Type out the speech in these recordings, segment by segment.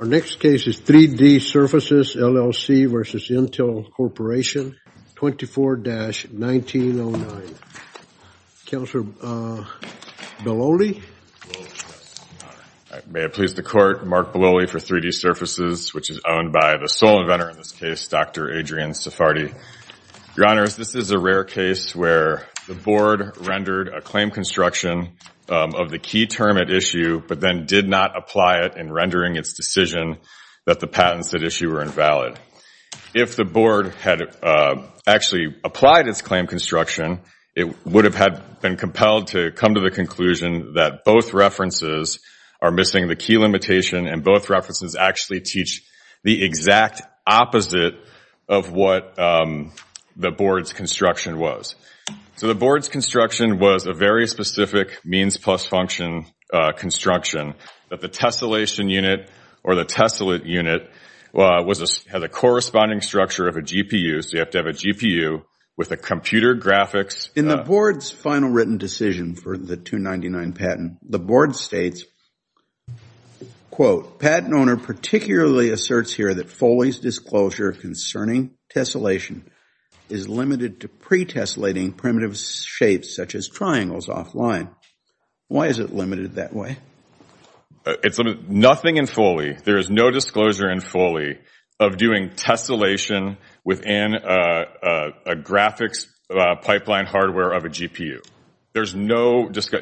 Our next case is 3D Surfaces, LLC v. Intel Corporation, 24-1909. Counselor Beloli? May it please the Court, Mark Beloli for 3D Surfaces, which is owned by the sole inventor in this case, Dr. Adrian Sephardi. Your Honors, this is a rare case where the Board rendered a claim construction of the key term at issue but then did not apply it in rendering its decision that the patents at issue were invalid. If the Board had actually applied its claim construction, it would have been compelled to come to the conclusion that both references are missing the key limitation and both references actually teach the exact opposite of what the Board's construction was. So the Board's construction was a very specific means plus function construction that the tessellation unit or the tessellate unit had the corresponding structure of a GPU, so you have to have a GPU with a computer graphics. In the Board's final written decision for the 299 patent, the Board states, quote, Patent owner particularly asserts here that Foley's disclosure concerning tessellation is limited to pretessellating primitive shapes such as triangles offline. Why is it limited that way? Nothing in Foley. There is no disclosure in Foley of doing tessellation within a graphics pipeline hardware of a GPU. There's no, the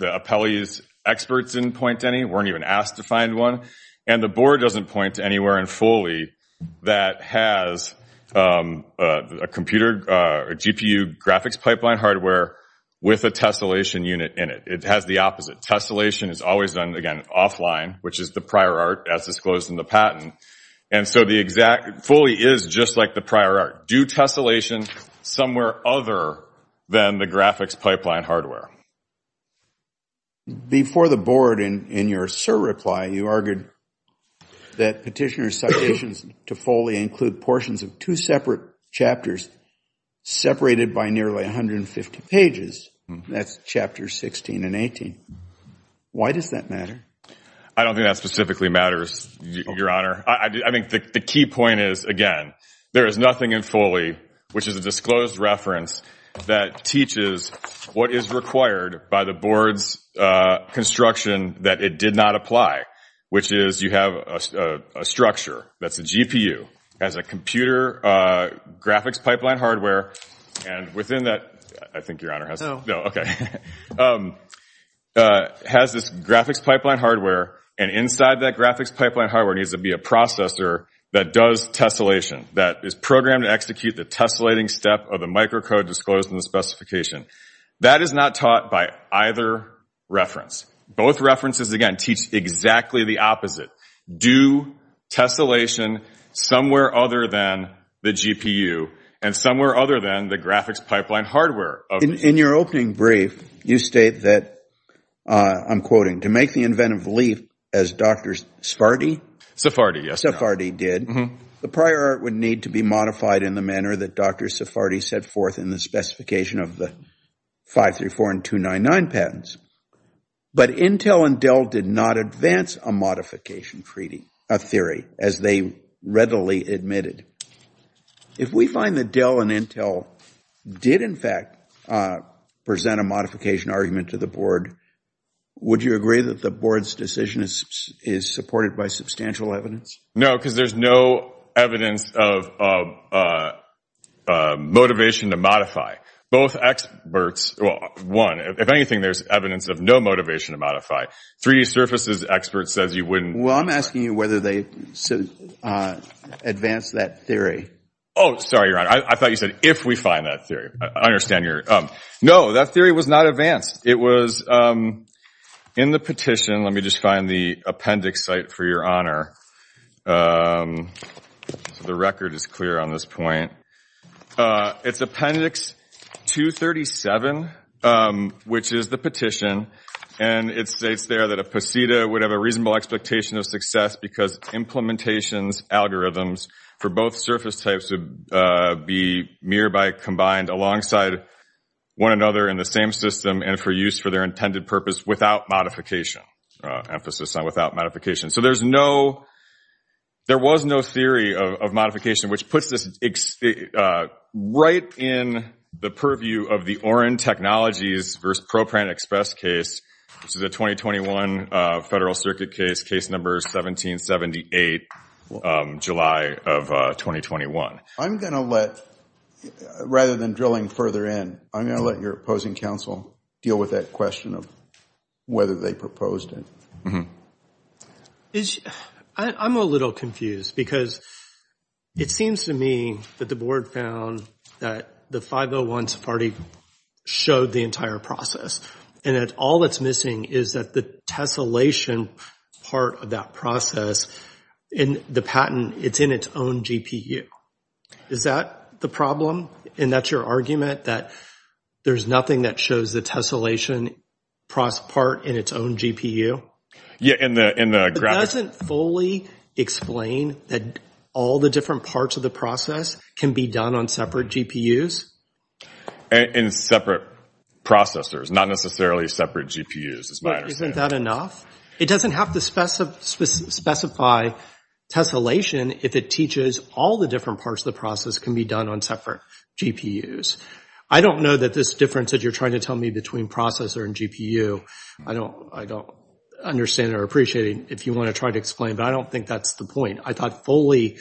appellee's experts didn't point to any, weren't even asked to find one, and the Board doesn't point to anywhere in Foley that has a computer, a GPU graphics pipeline hardware with a tessellation unit in it. It has the opposite. Tessellation is always done, again, offline, which is the prior art as disclosed in the patent, and so the exact, Foley is just like the prior art. Do tessellation somewhere other than the graphics pipeline hardware. Before the Board, in your cert reply, you argued that petitioner's citations to Foley include portions of two separate chapters separated by nearly 150 pages. That's chapters 16 and 18. Why does that matter? I don't think that specifically matters, Your Honor. I think the key point is, again, there is nothing in Foley, which is a disclosed reference that teaches what is required by the Board's construction that it did not apply, which is you have a structure that's a GPU, has a computer graphics pipeline hardware, and within that, I think Your Honor has, no, okay, has this graphics pipeline hardware, and inside that graphics pipeline hardware needs to be a processor that does tessellation, that is programmed to execute the tessellating step of the microcode disclosed in the specification. That is not taught by either reference. Both references, again, teach exactly the opposite. Do tessellation somewhere other than the GPU and somewhere other than the graphics pipeline hardware. In your opening brief, you state that, I'm quoting, to make the inventive leaf as Dr. Sephardi. Sephardi, yes. Sephardi did. The prior art would need to be modified in the manner that Dr. Sephardi set forth in the specification of the 534 and 299 patents. But Intel and Dell did not advance a modification treaty, a theory, as they readily admitted. If we find that Dell and Intel did, in fact, present a modification argument to the Board, would you agree that the Board's decision is supported by substantial evidence? No, because there's no evidence of motivation to modify. Both experts, well, one, if anything, there's evidence of no motivation to modify. 3D Surfaces' expert says you wouldn't. Well, I'm asking you whether they advanced that theory. Oh, sorry, Your Honor, I thought you said, if we find that theory. I understand your, no, that theory was not advanced. It was in the petition, let me just find the appendix site for Your Honor, so the record is clear on this point. It's appendix 237, which is the petition, and it states there that a POSITA would have a reasonable expectation of success because implementations, algorithms for both surface types would be nearby combined alongside one another in the same system and for use for their intended purpose without modification, emphasis on without modification. So there's no, there was no theory of modification, which puts this right in the purview of the Oren Technologies v. ProPrint Express case, which is a 2021 Federal Circuit case, case number 1778, July of 2021. I'm going to let, rather than drilling further in, I'm going to let your opposing counsel deal with that question of whether they proposed it. I'm a little confused because it seems to me that the board found that the 501-SFARTI showed the entire process, and that all that's missing is that the tessellation part of that process in the patent, it's in its own GPU. Is that the problem? And that's your argument, that there's nothing that shows the tessellation part in its own GPU? It doesn't fully explain that all the different parts of the process can be done on separate GPUs? In separate processors, not necessarily separate GPUs, is my understanding. Isn't that enough? It doesn't have to specify tessellation if it teaches all the different parts of the process can be done on separate GPUs. I don't know that this difference that you're trying to tell me between processor and GPU, I don't understand or appreciate it if you want to try to explain, but I don't think that's the point. I thought fully,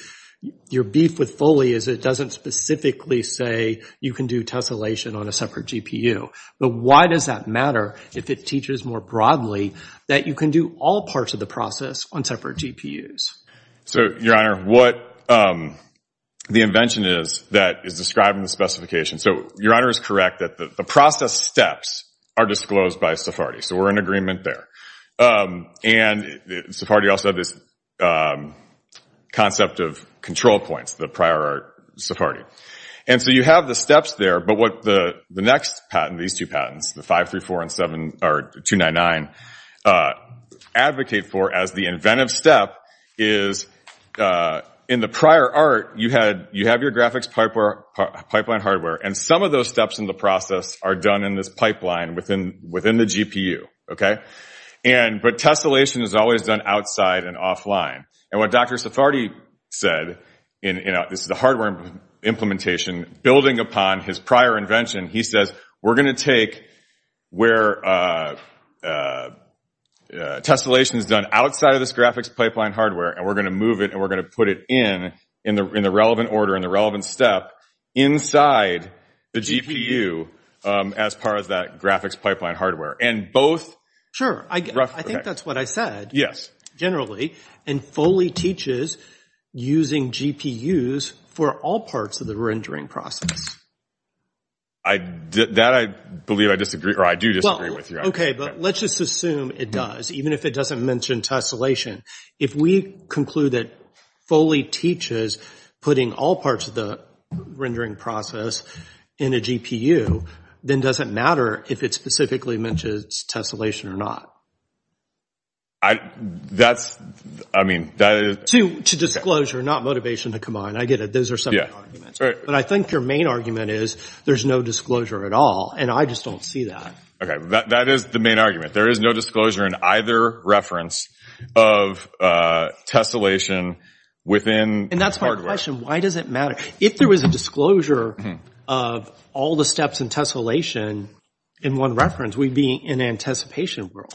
your beef with fully is it doesn't specifically say you can do tessellation on a separate GPU, but why does that matter if it teaches more broadly that you can do all parts of the process on separate GPUs? So Your Honor, what the invention is that is describing the specification, so Your Honor is correct that the process steps are disclosed by SFARTI, so we're in agreement there. And SFARTI also had this concept of control points, the prior SFARTI. And so you have the steps there, but what the next patent, these two patents, the 534 and 299, advocate for as the inventive step is in the prior art, you have your graphics pipeline hardware, and some of those steps in the process are done in this pipeline within the GPU, okay? But tessellation is always done outside and offline, and what Dr. SFARTI said, this is the hardware implementation, building upon his prior invention, he says, we're going to take where tessellation is done outside of this graphics pipeline hardware, and we're going to move it, and we're going to put it in, in the relevant order, in the relevant step inside the GPU as part of that graphics pipeline hardware. And both... Sure. I think that's what I said, generally, and Foley teaches using GPUs for all parts of the rendering process. That I believe I disagree, or I do disagree with Your Honor. Okay, but let's just assume it does, even if it doesn't mention tessellation. If we conclude that Foley teaches putting all parts of the rendering process in a GPU, then does it matter if it specifically mentions tessellation or not? That's... I mean, that is... To disclosure, not motivation to combine, I get it, those are some of the arguments. But I think your main argument is there's no disclosure at all, and I just don't see that. Okay, that is the main argument. There is no disclosure in either reference of tessellation within hardware. And that's my question. Why does it matter? If there was a disclosure of all the steps in tessellation in one reference, we'd be in an anticipation world.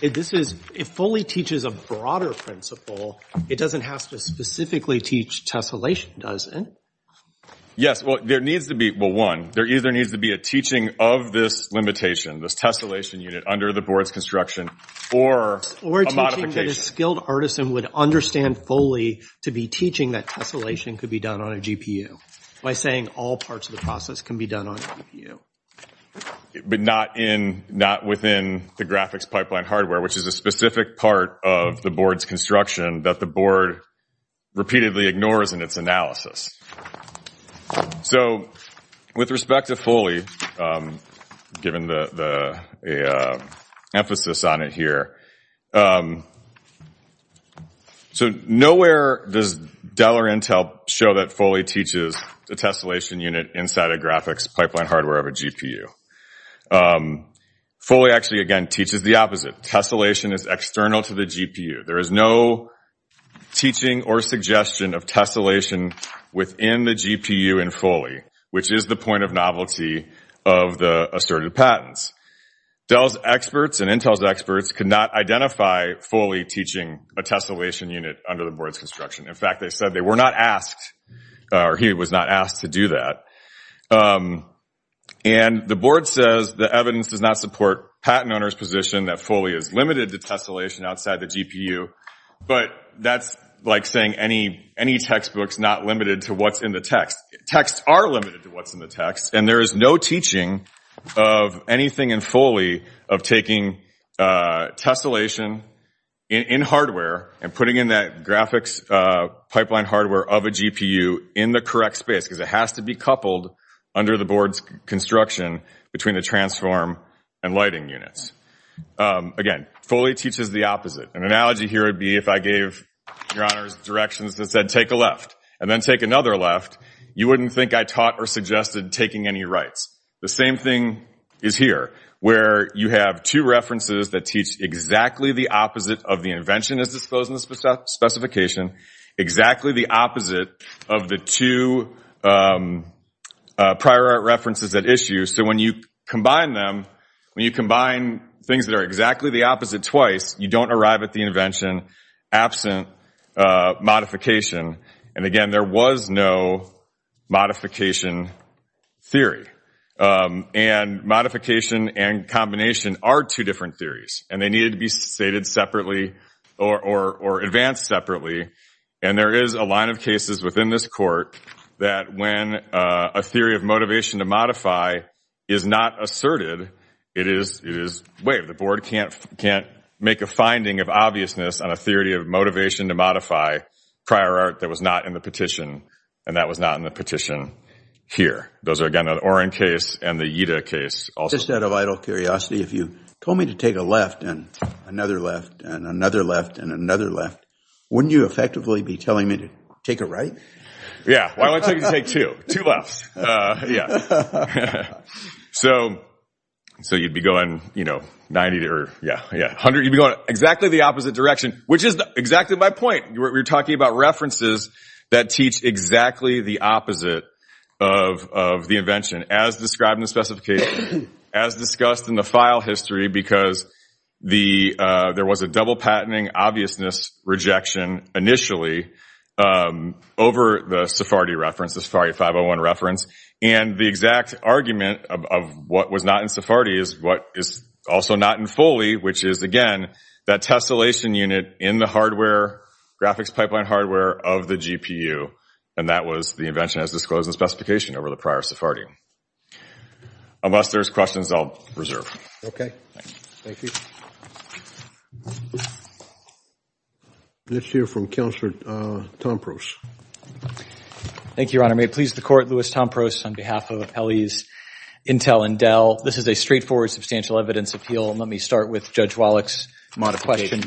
If Foley teaches a broader principle, it doesn't have to specifically teach tessellation, does it? Yes. Well, there needs to be... Well, one, there either needs to be a teaching of this limitation, this tessellation unit under the board's construction, or a modification. Or teaching that a skilled artisan would understand Foley to be teaching that tessellation could be done on a GPU, by saying all parts of the process can be done on a GPU. But not within the graphics pipeline hardware, which is a specific part of the board's construction that the board repeatedly ignores in its analysis. So, with respect to Foley, given the emphasis on it here, nowhere does Dell or Intel show that Foley teaches the tessellation unit inside a graphics pipeline hardware of a GPU. Foley actually, again, teaches the opposite. Tessellation is external to the GPU. There is no teaching or suggestion of tessellation within the GPU in Foley, which is the point of novelty of the asserted patents. Dell's experts and Intel's experts could not identify Foley teaching a tessellation unit under the board's construction. In fact, they said they were not asked, or he was not asked to do that. And the board says the evidence does not support patent owner's position that Foley is limited to tessellation outside the GPU. But that's like saying any textbook's not limited to what's in the text. Texts are limited to what's in the text. And there is no teaching of anything in Foley of taking tessellation in hardware and putting in that graphics pipeline hardware of a GPU in the correct space, because it has to be coupled under the board's construction between the transform and lighting units. Again, Foley teaches the opposite. An analogy here would be if I gave your honors directions that said take a left and then take another left, you wouldn't think I taught or suggested taking any rights. The same thing is here, where you have two references that teach exactly the opposite of the invention as disclosed in the specification, exactly the opposite of the two prior art references at issue. So when you combine them, when you combine things that are exactly the opposite twice, you don't arrive at the invention absent modification. And again, there was no modification theory. And modification and combination are two different theories. And they needed to be stated separately or advanced separately. And there is a line of cases within this court that when a theory of motivation to modify is not asserted, it is waived. The board can't make a finding of obviousness on a theory of motivation to modify prior art that was not in the petition, and that was not in the petition here. Those are, again, the Oren case and the Ida case. Just out of idle curiosity, if you told me to take a left and another left and another left and another left, wouldn't you effectively be telling me to take a right? Yeah. Why would I tell you to take two? Two lefts. So you'd be going, you know, 90 or, yeah, 100, you'd be going exactly the opposite direction, which is exactly my point. We're talking about references that teach exactly the opposite of the invention as described in the specification as discussed in the file history because there was a double patenting obviousness rejection initially over the Sephardi reference, the Sephardi 501 reference, and the exact argument of what was not in Sephardi is what is also not in Foley, which is, again, that tessellation unit in the hardware, graphics pipeline hardware of the GPU, and that was the invention as disclosed in the specification over the prior Sephardi. Unless there's questions, I'll reserve. Thank you. Let's hear from Counselor Tompros. Thank you, Your Honor. May it please the Court, Louis Tompros on behalf of Appellees Intel and Dell. This is a straightforward substantial evidence appeal. Let me start with Judge Wallach's question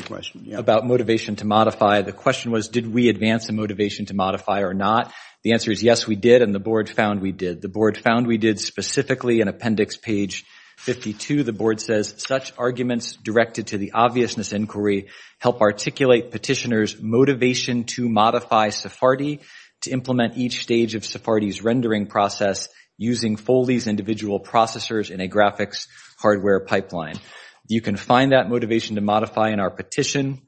about motivation to modify. The question was, did we advance the motivation to modify or not? The answer is, yes, we did. And the Board found we did. The Board found we did specifically in Appendix Page 52. The Board says, such arguments directed to the obviousness inquiry help articulate petitioner's motivation to modify Sephardi to implement each stage of Sephardi's rendering process using Foley's individual processors in a graphics hardware pipeline. You can find that motivation to modify in our petition.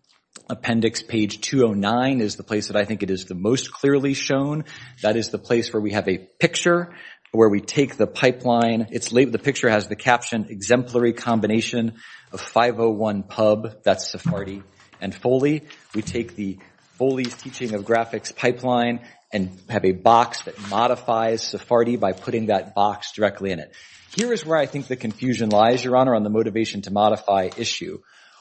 Appendix Page 209 is the place that I think it is the most clearly shown. That is the place where we have a picture, where we take the pipeline. The picture has the caption, exemplary combination of 501 pub, that's Sephardi, and Foley. We take the Foley's teaching of graphics pipeline and have a box that modifies Sephardi by putting that box directly in it. Here is where I think the confusion lies, Your Honor, on the motivation to modify issue.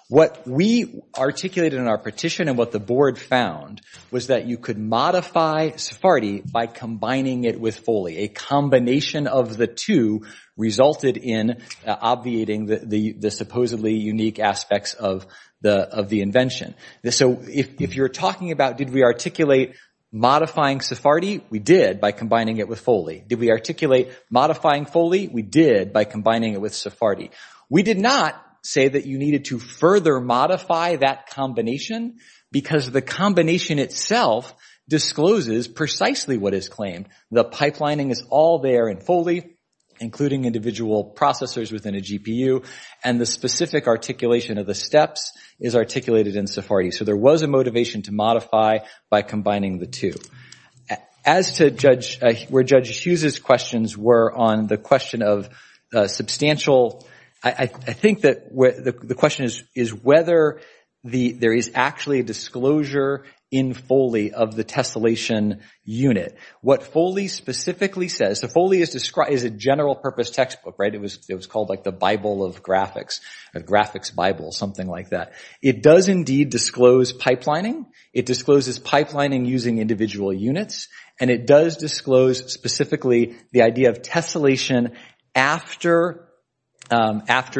What we articulated in our petition and what the Board found was that you could modify Sephardi by combining it with Foley. A combination of the two resulted in obviating the supposedly unique aspects of the invention. So if you're talking about did we articulate modifying Sephardi, we did by combining it with Foley. Did we articulate modifying Foley, we did by combining it with Sephardi. We did not say that you needed to further modify that combination because the combination itself discloses precisely what is claimed. The pipelining is all there in Foley, including individual processors within a GPU, and the specific articulation of the steps is articulated in Sephardi. So there was a motivation to modify by combining the two. As to where Judge Hughes' questions were on the question of substantial, I think that the question is whether there is actually a disclosure in Foley of the tessellation unit. What Foley specifically says, so Foley is a general purpose textbook, right? It was called like the Bible of graphics, a graphics Bible, something like that. It does indeed disclose pipelining. It discloses pipelining using individual units, and it does disclose specifically the idea of tessellation after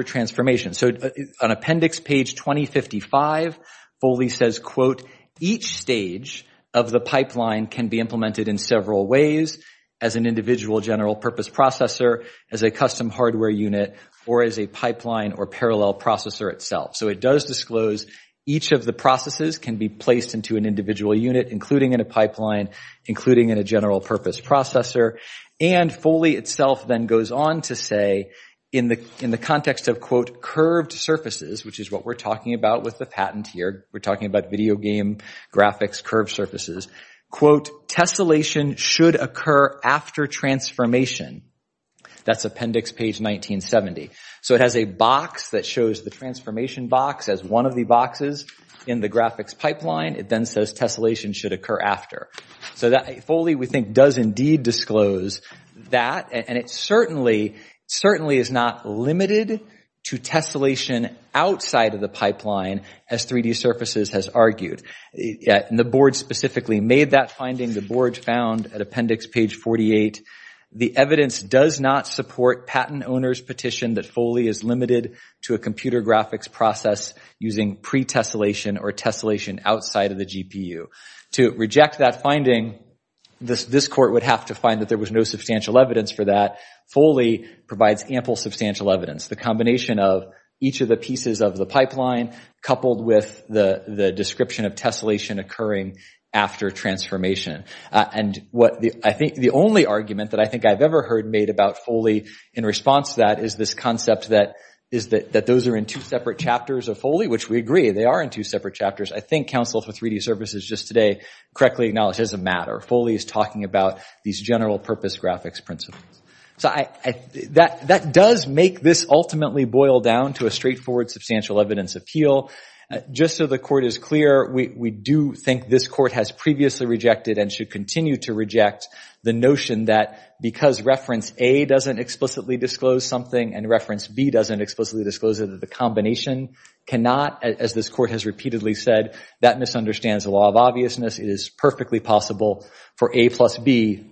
transformation. So on appendix page 2055, Foley says, quote, each stage of the pipeline can be implemented in several ways, as an individual general purpose processor, as a custom hardware unit, or as a pipeline or parallel processor itself. So it does disclose each of the processes can be placed into an individual unit, including in a pipeline, including in a general purpose processor. And Foley itself then goes on to say, in the context of, quote, curved surfaces, which is what we're talking about with the patent here, we're talking about video game graphics curved surfaces, quote, tessellation should occur after transformation. That's appendix page 1970. So it has a box that shows the transformation box as one of the boxes in the graphics pipeline. It then says tessellation should occur after. So Foley, we think, does indeed disclose that, and it certainly is not limited to tessellation outside of the pipeline, as 3D Surfaces has argued. The board specifically made that finding, the board found at appendix page 48. The evidence does not support patent owner's petition that Foley is limited to a computer graphics process using pretessellation or tessellation outside of the GPU. To reject that finding, this court would have to find that there was no substantial evidence for that. Foley provides ample substantial evidence. The combination of each of the pieces of the pipeline, coupled with the description of tessellation occurring after transformation. And the only argument that I think I've ever heard made about Foley in response to that is this concept that those are in two separate chapters of Foley, which we agree, they are in two separate chapters. I think counsel for 3D Surfaces just today correctly acknowledged it doesn't matter. Foley is talking about these general purpose graphics principles. That does make this ultimately boil down to a straightforward substantial evidence appeal. Just so the court is clear, we do think this court has previously rejected and should continue to reject the notion that because reference A doesn't explicitly disclose something and reference B doesn't explicitly disclose it, that the combination cannot, as this court has repeatedly said, that misunderstands the law of obviousness. It is perfectly possible for A plus B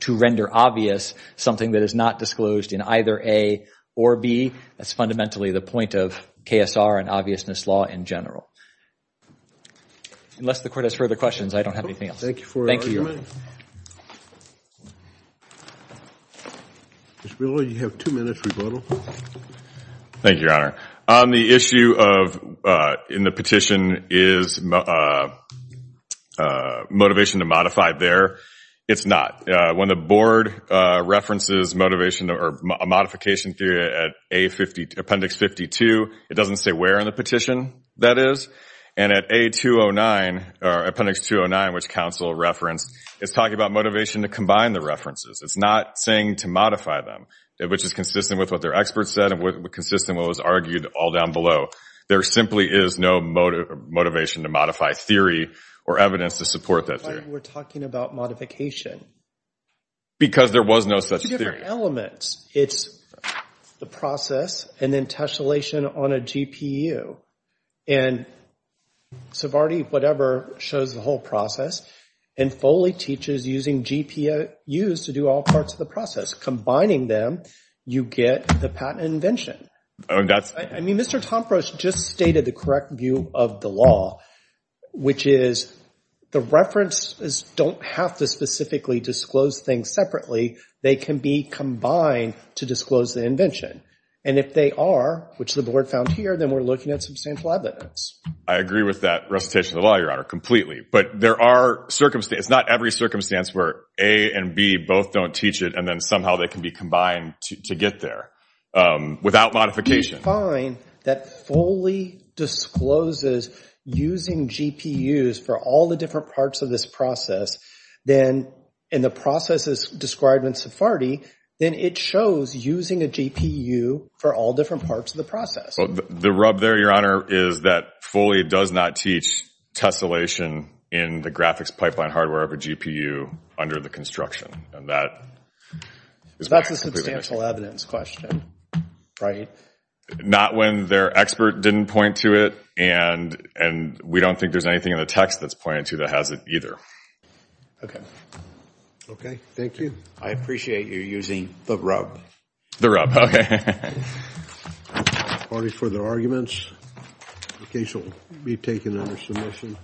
to render obvious something that is not disclosed in either A or B. That's fundamentally the point of KSR and obviousness law in general. Unless the court has further questions, I don't have anything else. Thank you. Mr. Miller, you have two minutes rebuttal. Thank you, Your Honor. On the issue of in the petition is motivation to modify there. It's not. When the board references motivation or modification theory at appendix 52, it doesn't say where in the petition that is. And at appendix 209, which counsel referenced, it's talking about motivation to combine the references. It's not saying to modify them, which is consistent with what their experts said and consistent with what was argued all down below. There simply is no motivation to modify theory or evidence to support that theory. That's why we're talking about modification. Because there was no such theory. It's two different elements. It's the process and then tessellation on a GPU. And Sovarte, whatever, shows the whole process and Foley teaches using GPUs to do all parts of the process. Combining them, you get the patent invention. I mean, Mr. Tompros just stated the correct view of the law, which is the references don't have to specifically disclose things separately. They can be combined to disclose the invention. And if they are, which the board found here, then we're looking at substantial evidence. I agree with that recitation of the law, Your Honor, completely. But there are circumstances, it's not every circumstance where A and B both don't teach it and then somehow they can be combined to get there. Without modification. If you find that Foley discloses using GPUs for all the different parts of this process, then in the processes described in Sovarte, then it shows using a GPU for all different parts of the process. Well, the rub there, Your Honor, is that Foley does not teach tessellation in the graphics pipeline hardware of a GPU under the construction. And that is basically the issue. Substantial evidence question, right? Not when their expert didn't point to it and we don't think there's anything in the text that's pointed to that has it either. Okay. Okay. Thank you. I appreciate you using the rub. The rub. Any further arguments? The case will be taken under submission.